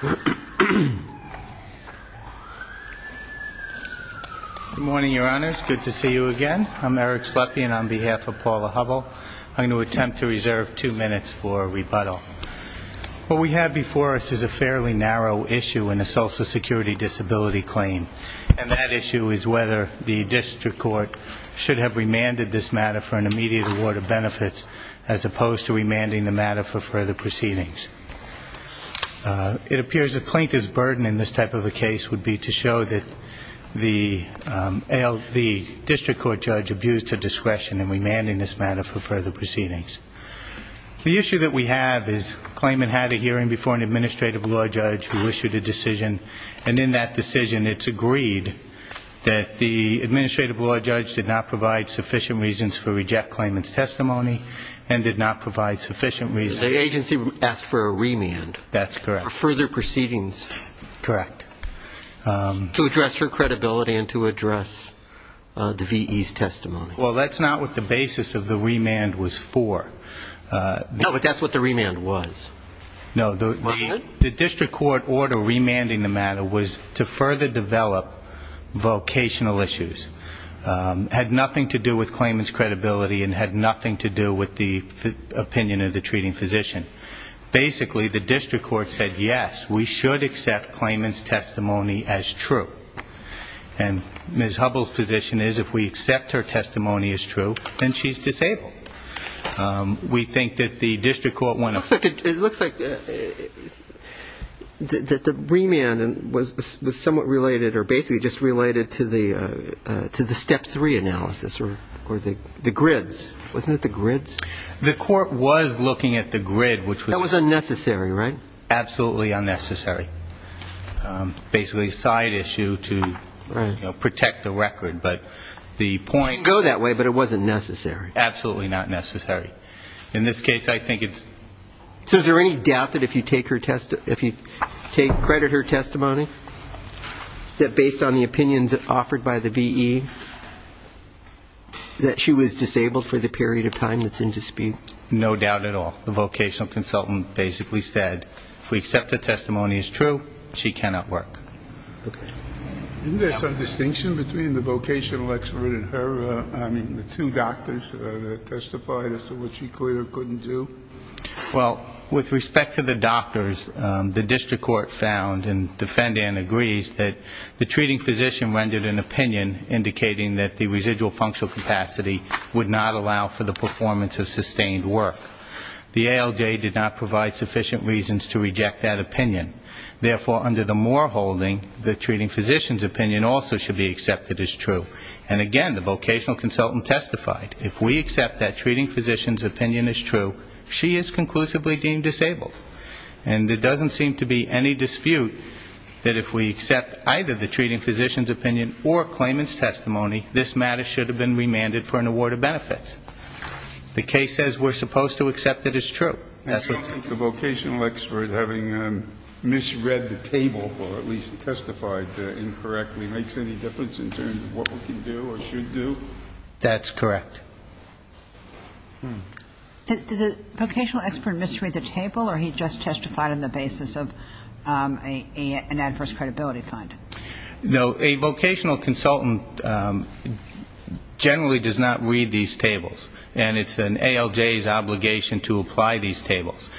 Good morning, your honors. Good to see you again. I'm Eric Slepian on behalf of Paula Hubbell. I'm going to attempt to reserve two minutes for a rebuttal. What we have before us is a fairly narrow issue in the Social Security Disability Claim. And that issue is whether the district court should have remanded this matter for an immediate award of benefits as opposed to remanding the matter for further proceedings. It appears the plaintiff's burden in this type of a case would be to show that the district court judge abused her discretion in remanding this matter for further proceedings. The issue that we have is the claimant had a hearing before an administrative law judge who issued a decision. And in that decision it's agreed that the administrative law judge did not provide sufficient reasons for reject claimant's testimony and did not provide sufficient reasons to address her credibility and to address the V.E.'s testimony. The agency asked for a remand. That's correct. Well, that's not what the basis of the remand was for. No, but that's what the remand was. No, the district court order remanding the matter was to further develop vocational issues. Had nothing to do with claimant's credibility and had nothing to do with the opinion of the treating physician. Basically, the district court said, yes, we should accept claimant's testimony as true. And Ms. Hubbell's position is if we accept her testimony as true, then she's disabled. It looks like the remand was somewhat related or basically just related to the step three analysis or the grids. Wasn't it the grids? The court was looking at the grid. That was unnecessary, right? Basically a side issue to protect the record. It can go that way, but it wasn't necessary. Absolutely not necessary. So is there any doubt that if you credit her testimony, that based on the opinions offered by the V.E., that she was disabled for the period of time that's in dispute? No doubt at all. The vocational consultant basically said if we accept her testimony as true, she cannot work. Isn't there some distinction between the vocational expert and her, I mean, the two doctors that testified as to what she could or couldn't do? Well, with respect to the doctors, the district court found and defendant agrees that the treating physician rendered an opinion indicating that the residual functional capacity would not allow for the performance of sustained work. The ALJ did not provide sufficient reasons to reject that opinion. Therefore, under the Moore holding, the treating physician's opinion also should be accepted as true. And again, the vocational consultant testified, if we accept that treating physician's opinion is true, she is conclusively deemed disabled. And there doesn't seem to be any dispute that if we accept either the treating physician's opinion or claimant's testimony, this matter should have been remanded for an award of benefits. The case says we're supposed to accept it as true. And you don't think the vocational expert, having misread the table, or at least testified incorrectly, makes any difference in terms of what we can do or should do? That's correct. Did the vocational expert misread the table, or he just testified on the basis of an adverse credibility finding? No, a vocational consultant generally does not read these tables, and it's an ALJ's obligation to apply these tables.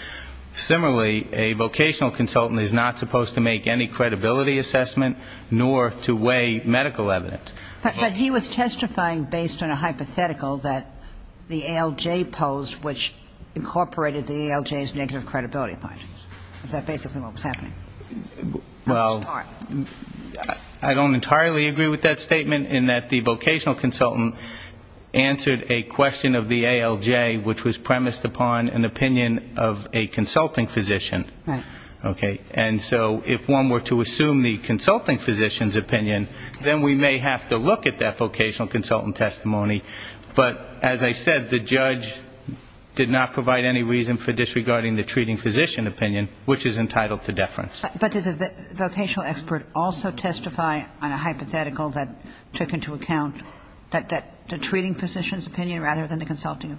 Similarly, a vocational consultant is not supposed to make any credibility assessment, nor to weigh medical evidence. But he was testifying based on a hypothetical that the ALJ posed, which incorporated the ALJ's negative credibility findings. Is that basically what was happening? Well, I don't entirely agree with that statement in that the vocational consultant answered a question of the ALJ, which was premised upon an opinion of a consulting physician. And so if one were to assume the consulting physician's opinion, then we may have to look at that vocational consultant testimony. But as I said, the judge did not provide any reason for disregarding the treating physician opinion, which is entitled to deference. But did the vocational expert also testify on a hypothetical that took into account the treating physician's opinion rather than the consulting?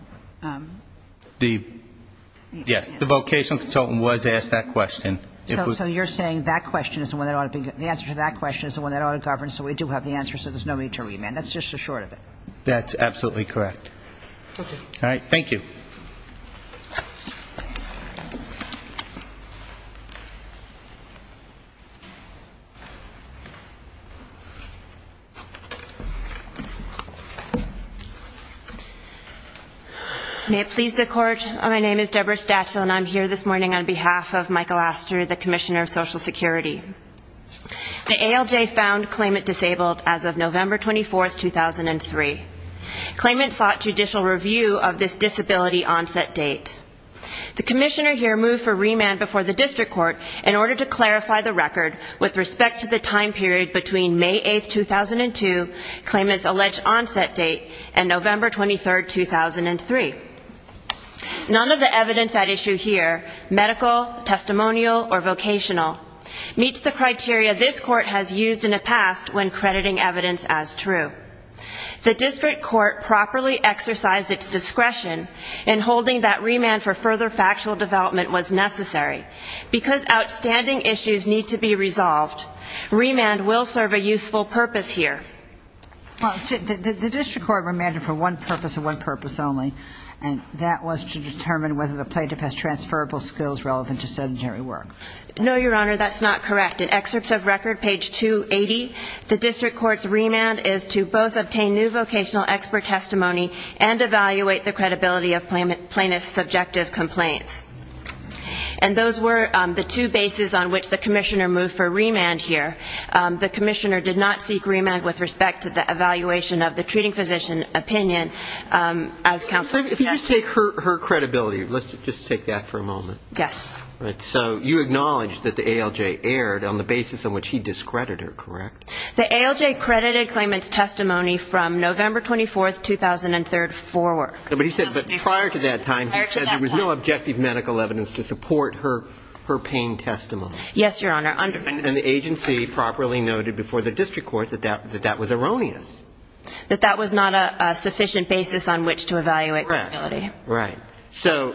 Yes, the vocational consultant was asked that question. So you're saying the answer to that question is the one that ought to govern, so we do have the answer, so there's no need to remand. That's just a short of it. That's absolutely correct. May it please the Court, my name is Deborah Stachel, and I'm here this morning on behalf of Michael Astor, the commissioner of Social Security. The ALJ found Klayment disabled as of November 24, 2003. Klayment sought judicial review of this disability onset date. The commissioner here moved for remand before the district court in order to clarify the record with respect to the time period between May 8, 2002, Klayment's alleged onset date, and November 23, 2003. None of the evidence at issue here, medical, testimonial, or vocational, meets the criteria this court has used in the past when crediting evidence as true. The district court properly exercised its discretion in holding that remand for further factual development was necessary. Because outstanding issues need to be resolved, remand will serve a useful purpose here. Well, the district court remanded for one purpose and one purpose only, and that was to determine whether the plaintiff has transferable skills relevant to sedentary work. No, Your Honor, that's not correct. In excerpts of record, page 280, the district court's remand is to both obtain new vocational expert testimony and evaluate the credibility of plaintiff's subjective complaints. And those were the two bases on which the commissioner moved for remand here. The commissioner did not seek remand with respect to the evaluation of the treating physician opinion as counsel. If you just take her credibility, let's just take that for a moment. So you acknowledge that the ALJ erred on the basis on which he discredited her, correct? The ALJ credited Klayment's testimony from November 24, 2003 forward. But he said prior to that time, he said there was no objective medical evidence to support her pain testimony. Yes, Your Honor. And the agency properly noted before the district court that that was erroneous. That that was not a sufficient basis on which to evaluate her ability. Right. So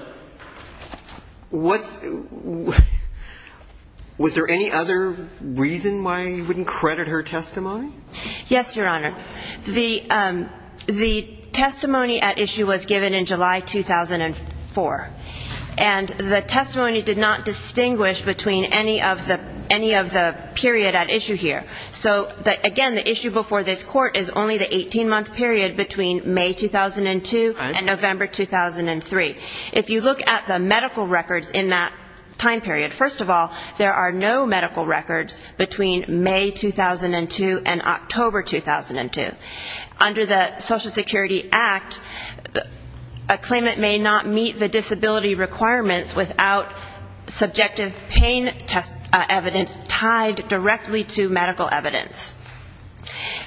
was there any other reason why you wouldn't credit her testimony? Yes, Your Honor. The testimony at issue was given in July 2004. And the testimony did not distinguish between any of the period at issue here. So again, the issue before this court is only the 18-month period between May 2002 and November 2003. If you look at the medical records in that time period, first of all, there are no medical records between May 2002 and October 2002. Under the Social Security Act, Klayment may not meet the disability requirements without subjective pain test evidence tied directly to medical evidence.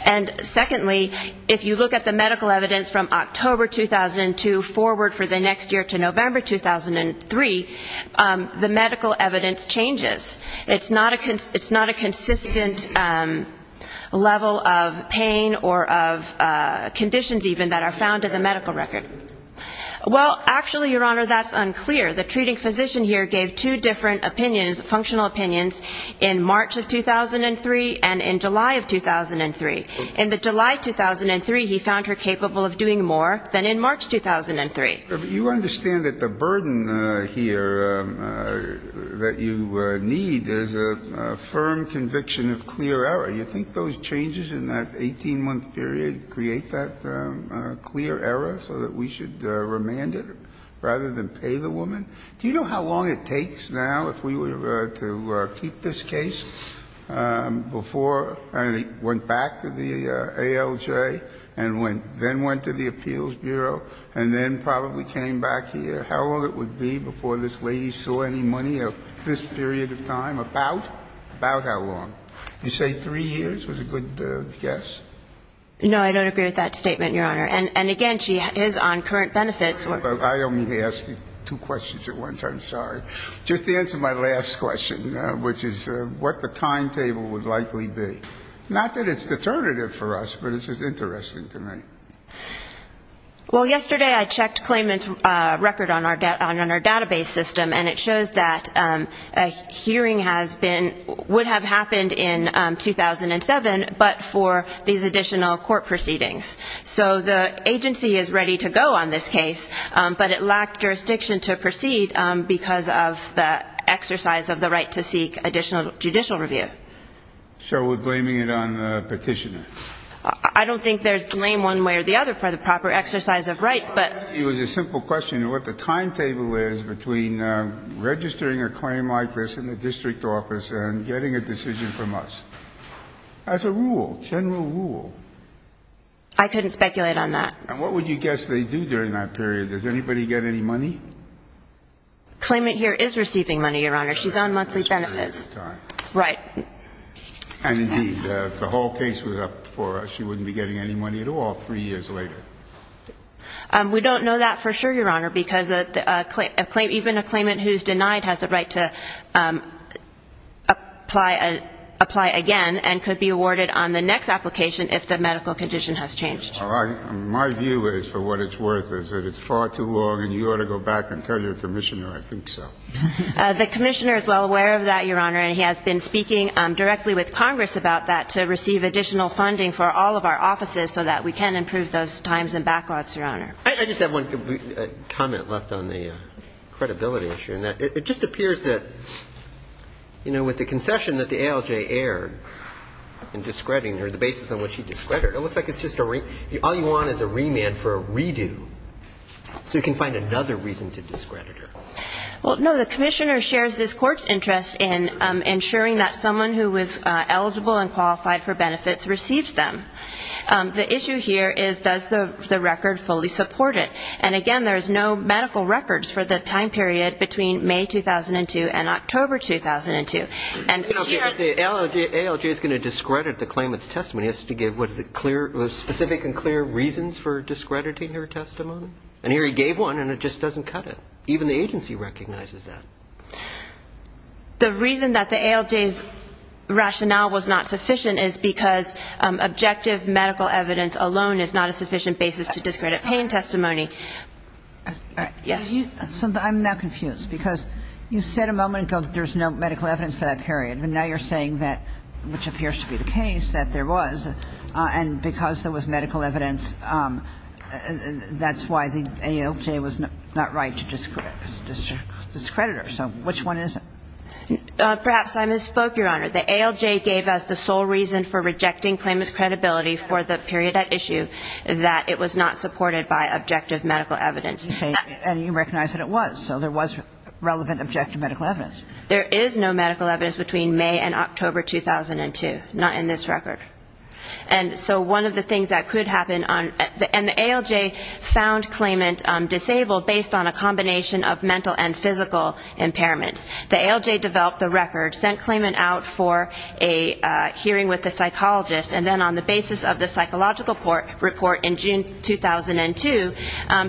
And secondly, if you look at the medical evidence from October 2002 forward for the next year to November 2003, the medical evidence changes. It's not a consistent level of pain or of conditions even that are found in the medical record. Well, actually, Your Honor, that's unclear. The treating physician here gave two different functional opinions in March of 2003 and in July of 2003. In the July 2003, he found her capable of doing more than in March 2003. If you understand that the burden here that you need is a firm conviction of clear error, you think those changes in that 18-month period create that clear error so that we should remand it rather than pay the woman? Do you know how long it takes now if we were to keep this case before it went back to the ALJ and then went to the Appeals Bureau and then probably came back here? How long it would be before this lady saw any money of this period of time? About? About how long? You say three years was a good guess? No, I don't agree with that statement, Your Honor. And again, she is on current benefits. I only asked you two questions at once. I'm sorry. Just to answer my last question, which is what the timetable would likely be. Not that it's determinative for us, but it's just interesting to me. Well, yesterday I checked Clayman's record on our database system, and it shows that a hearing has been, would have happened in 2007, but for these additional court proceedings. So the agency is ready to go on this case, but it lacked jurisdiction to proceed because of the exercise of the right to seek additional judicial review. So we're blaming it on the petitioner? I don't think there's blame one way or the other for the proper exercise of rights. It was a simple question of what the timetable is between registering a claim like this in the district office and getting a decision from us. That's a rule, general rule. I couldn't speculate on that. And what would you guess they do during that period? Does anybody get any money? Clayman here is receiving money, Your Honor. She's on monthly benefits. Right. And indeed, if the whole case was up for us, she wouldn't be getting any money at all three years later. We don't know that for sure, Your Honor, because even a claimant who's denied has a right to apply again and could be awarded on the next application if the medical condition has changed. My view is, for what it's worth, is that it's far too long and you ought to go back and tell your commissioner, I think so. The commissioner is well aware of that, Your Honor, and he has been speaking directly with Congress about that to receive additional funding for all of our offices so that we can improve those timelines. I just have one comment left on the credibility issue, and that it just appears that, you know, with the concession that the ALJ aired in discrediting her, the basis on which she discredited her, it looks like it's just a remand. All you want is a remand for a redo so you can find another reason to discredit her. Well, no, the commissioner shares this Court's interest in ensuring that someone who is eligible and qualified for benefits receives them. The issue here is, does the record fully support it? And, again, there's no medical records for the time period between May 2002 and October 2002. And here... The ALJ is going to discredit the claimant's testimony. It has to give specific and clear reasons for discrediting her testimony. And here he gave one, and it just doesn't cut it. Even the agency recognizes that. The reason that the ALJ's rationale was not sufficient is because objective medical evidence alone is not a sufficient basis to discredit pain testimony. Yes. I'm now confused, because you said a moment ago that there's no medical evidence for that period. And now you're saying that, which appears to be the case, that there was. And because there was medical evidence, that's why the ALJ was not right to discredit her. So which one is it? Perhaps I misspoke, Your Honor. The ALJ gave us the sole reason for rejecting claimant's credibility for the period at issue that it was not supported by objective medical evidence. And you recognize that it was. So there was relevant objective medical evidence. There is no medical evidence between May and October 2002, not in this record. And so one of the things that could happen on the ALJ found claimant disabled based on a combination of mental and physical impairments. The ALJ developed the record, sent claimant out for a hearing with a psychologist, and then on the basis of the psychological report in June 2002,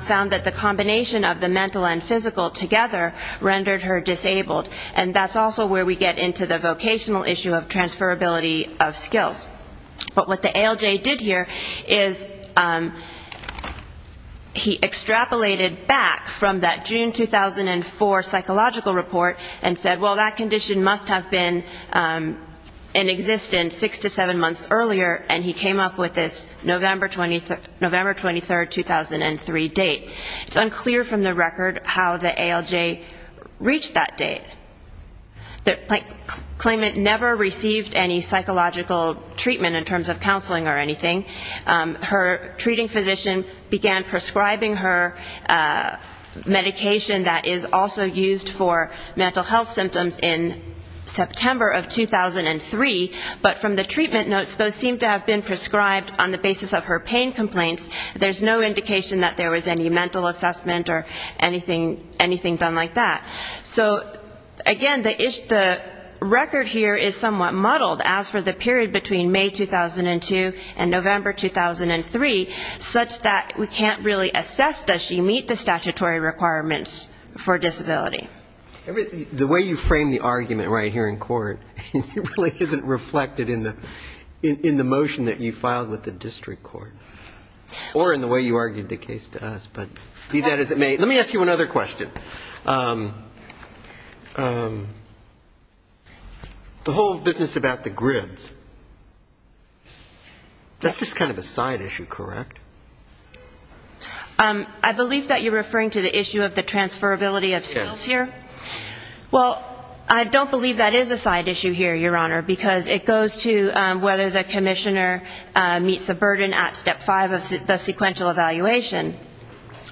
found that the combination of the mental and physical together rendered her disabled. And that's also where we get into the vocational issue of transferability of skills. But what the ALJ did here is he extrapolated back from that June 2004 psychological report and said, well, that condition must have been in existence six to seven months earlier, and he came up with this November 23, 2003 date. It's unclear from the record how the ALJ reached that date. The claimant never received any psychological treatment in terms of counseling or anything. Her treating physician began prescribing her medication that is also used for mental health symptoms, in September of 2003, but from the treatment notes those seem to have been prescribed on the basis of her pain complaints. There's no indication that there was any mental assessment or anything done like that. So, again, the record here is somewhat muddled as for the period between May 2002 and November 2003, such that we can't really assess does she meet the statutory requirements for disability. The way you frame the argument right here in court, it really isn't reflected in the motion that you filed with the district court. Or in the way you argued the case to us. Let me ask you another question. The whole business about the grids, that's just kind of a side issue, correct? I believe that you're referring to the issue of the transferability of skills here. Well, I don't believe that is a side issue here, Your Honor, because it goes to whether the commissioner meets the burden at Step 5 of the sequential evaluation.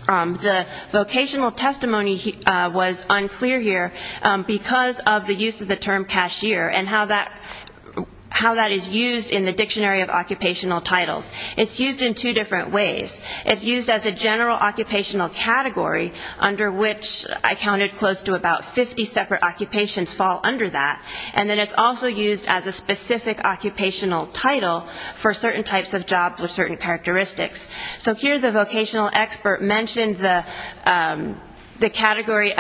The vocational testimony was unclear here because of the use of the term cashier and how that is used in the Dictionary of Occupational Titles. It's used in two different ways. It's used as a general occupational category, under which I counted close to about 50 separate occupations fall under that. And then it's also used as a specific occupational title for certain types of jobs with certain characteristics. So here the vocational expert mentioned the category,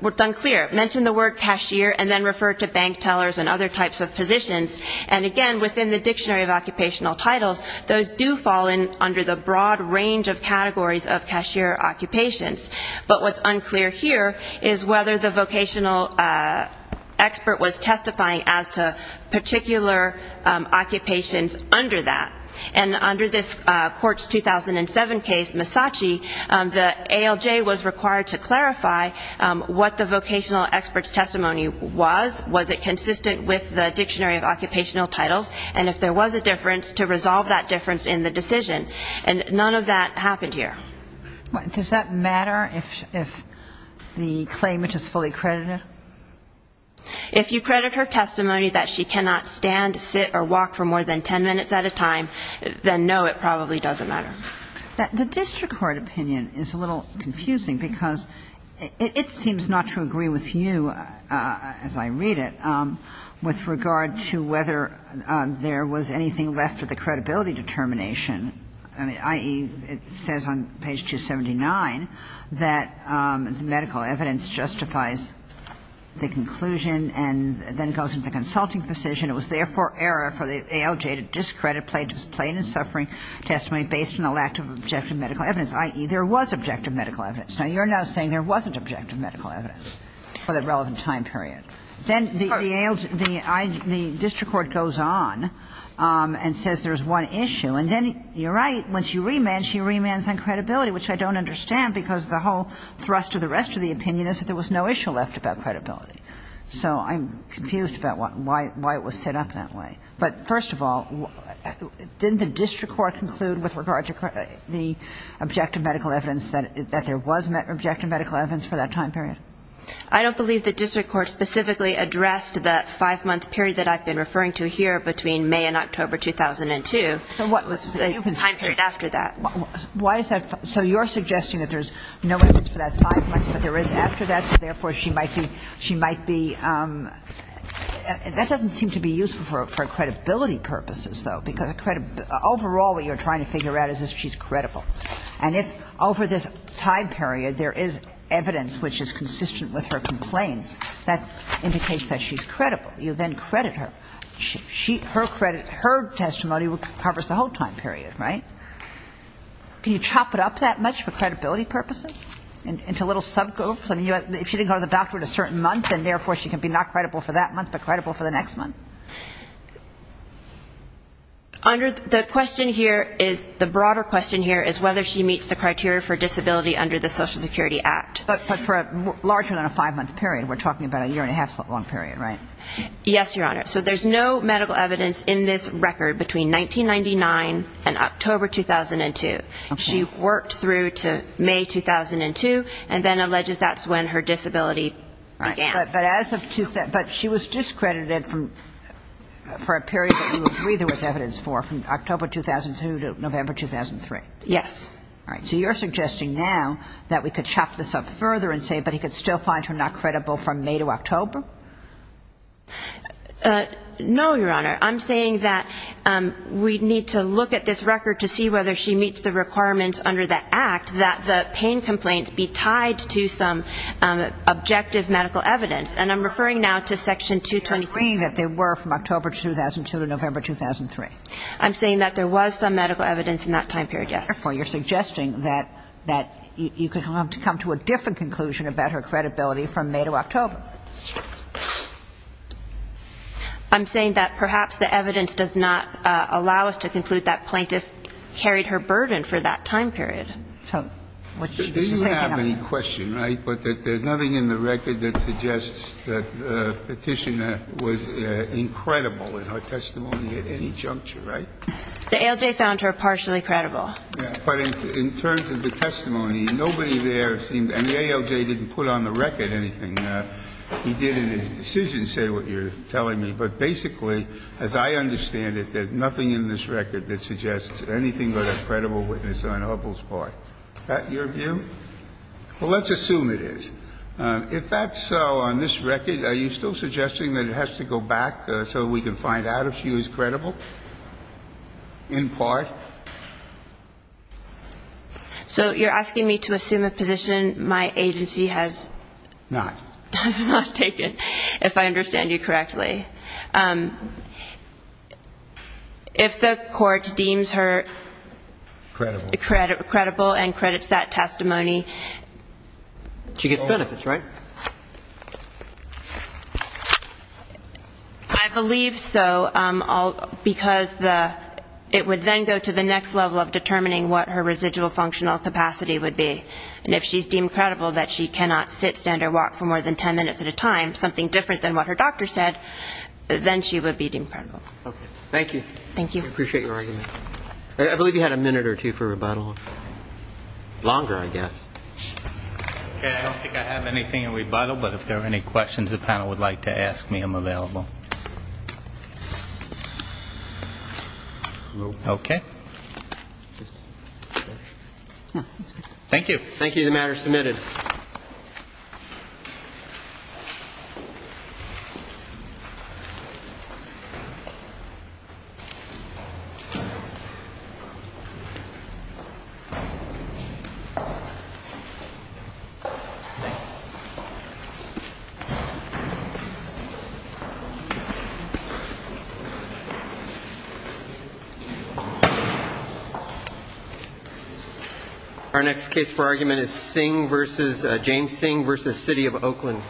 well, it's unclear, mentioned the word cashier and then referred to bank tellers and other types of positions. And again, within the Dictionary of Occupational Titles, those do fall under the broad range of categories of cashier occupations. But what's unclear here is whether the vocational expert was testifying as to particular occupations under that. And under this Court's 2007 case, Misace, the ALJ was required to clarify what the vocational expert's testimony was. Was it consistent with the Dictionary of Occupational Titles? And if there was a difference, to resolve that difference in the decision. And none of that happened here. Does that matter if the claimant is fully credited? If you credit her testimony that she cannot stand, sit or walk for more than ten minutes at a time, then no, it probably doesn't matter. The district court opinion is a little confusing because it seems not to agree with you, as I read it, with regard to whether there was anything left of the credibility determination, i.e., it says on page 279 that medical evidence justifies the conclusion and then goes to the consulting physician. It was therefore error for the ALJ to discredit plaintiff's plaintiff's suffering testimony based on the lack of objective medical evidence, i.e., there was objective medical evidence. Now, you're now saying there wasn't objective medical evidence for the relevant time period. Then the ALJ, the district court goes on and says there's one issue, and then you're right, when she remands, she remands on credibility, which I don't understand because the whole thrust of the rest of the opinion is that there was no issue left about credibility. So I'm confused about why it was set up that way. But first of all, didn't the district court conclude with regard to the objective medical evidence that there was objective medical evidence for that time period? I don't believe the district court specifically addressed that five-month period that I've been referring to here between May and October 2002. What was the time period after that? Why is that? So you're suggesting that there's no evidence for that five months, but there is after that, so therefore she might be – she might be – that doesn't seem to be useful for credibility purposes, though, because overall what you're trying to figure out is if she's credible. And if over this time period there is evidence which is consistent with her complaints, that indicates that she's credible. You then credit her. Her testimony covers the whole time period, right? Can you chop it up that much for credibility purposes into little subgroups? I mean, if she didn't go to the doctor in a certain month, then therefore she can be not credible for that month but credible for the next month? The question here is – the broader question here is whether she meets the criteria for disability under the Social Security Act. But for a larger than a five-month period. We're talking about a year-and-a-half long period, right? Yes, Your Honor. So there's no medical evidence in this record between 1999 and October 2002. She worked through to May 2002 and then alleges that's when her disability began. But as of – but she was discredited for a period that you agree there was evidence for, from October 2002 to November 2003? Yes. All right. So you're suggesting now that we could chop this up further and say, but he could still find her not credible from May to October? No, Your Honor. I'm saying that we need to look at this record to see whether she meets the requirements under the Act that the pain complaints be tied to some objective medical evidence. And I'm referring now to Section 223. You're agreeing that they were from October 2002 to November 2003? I'm saying that there was some medical evidence in that time period, yes. Therefore, you're suggesting that you could come to a different conclusion about her credibility from May to October? I'm saying that perhaps the evidence does not allow us to conclude that plaintiff carried her burden for that time period. So what you're saying is that – She didn't have any question, right, but that there's nothing in the record that suggests that the Petitioner was incredible in her testimony at any juncture, right? The ALJ found her partially credible. Yeah. But in terms of the testimony, nobody there seemed – and the ALJ didn't put on the record anything that he did in his decision, say what you're telling me. But basically, as I understand it, there's nothing in this record that suggests anything but a credible witness on Hubbell's part. Is that your view? Well, let's assume it is. If that's so, on this record, are you still suggesting that it has to go back so we can find out if she was credible in part? So you're asking me to assume a position my agency has not taken, if I understand you correctly. If the court deems her credible and credits that testimony – She gets benefits, right? I believe so, because it would then go to the next level of determining what her residual functional capacity would be. And if she's deemed credible that she cannot sit, stand or walk for more than 10 minutes at a time, something different than what her doctor said, then she would be deemed credible. Okay. Thank you. Thank you. I appreciate your argument. I believe you had a minute or two for rebuttal. Longer, I guess. Okay. I don't think I have anything in rebuttal. But if there are any questions the panel would like to ask me, I'm available. Okay. Thank you. The matter is submitted. Thank you. Our next case for argument is James Singh v. City of Oakland.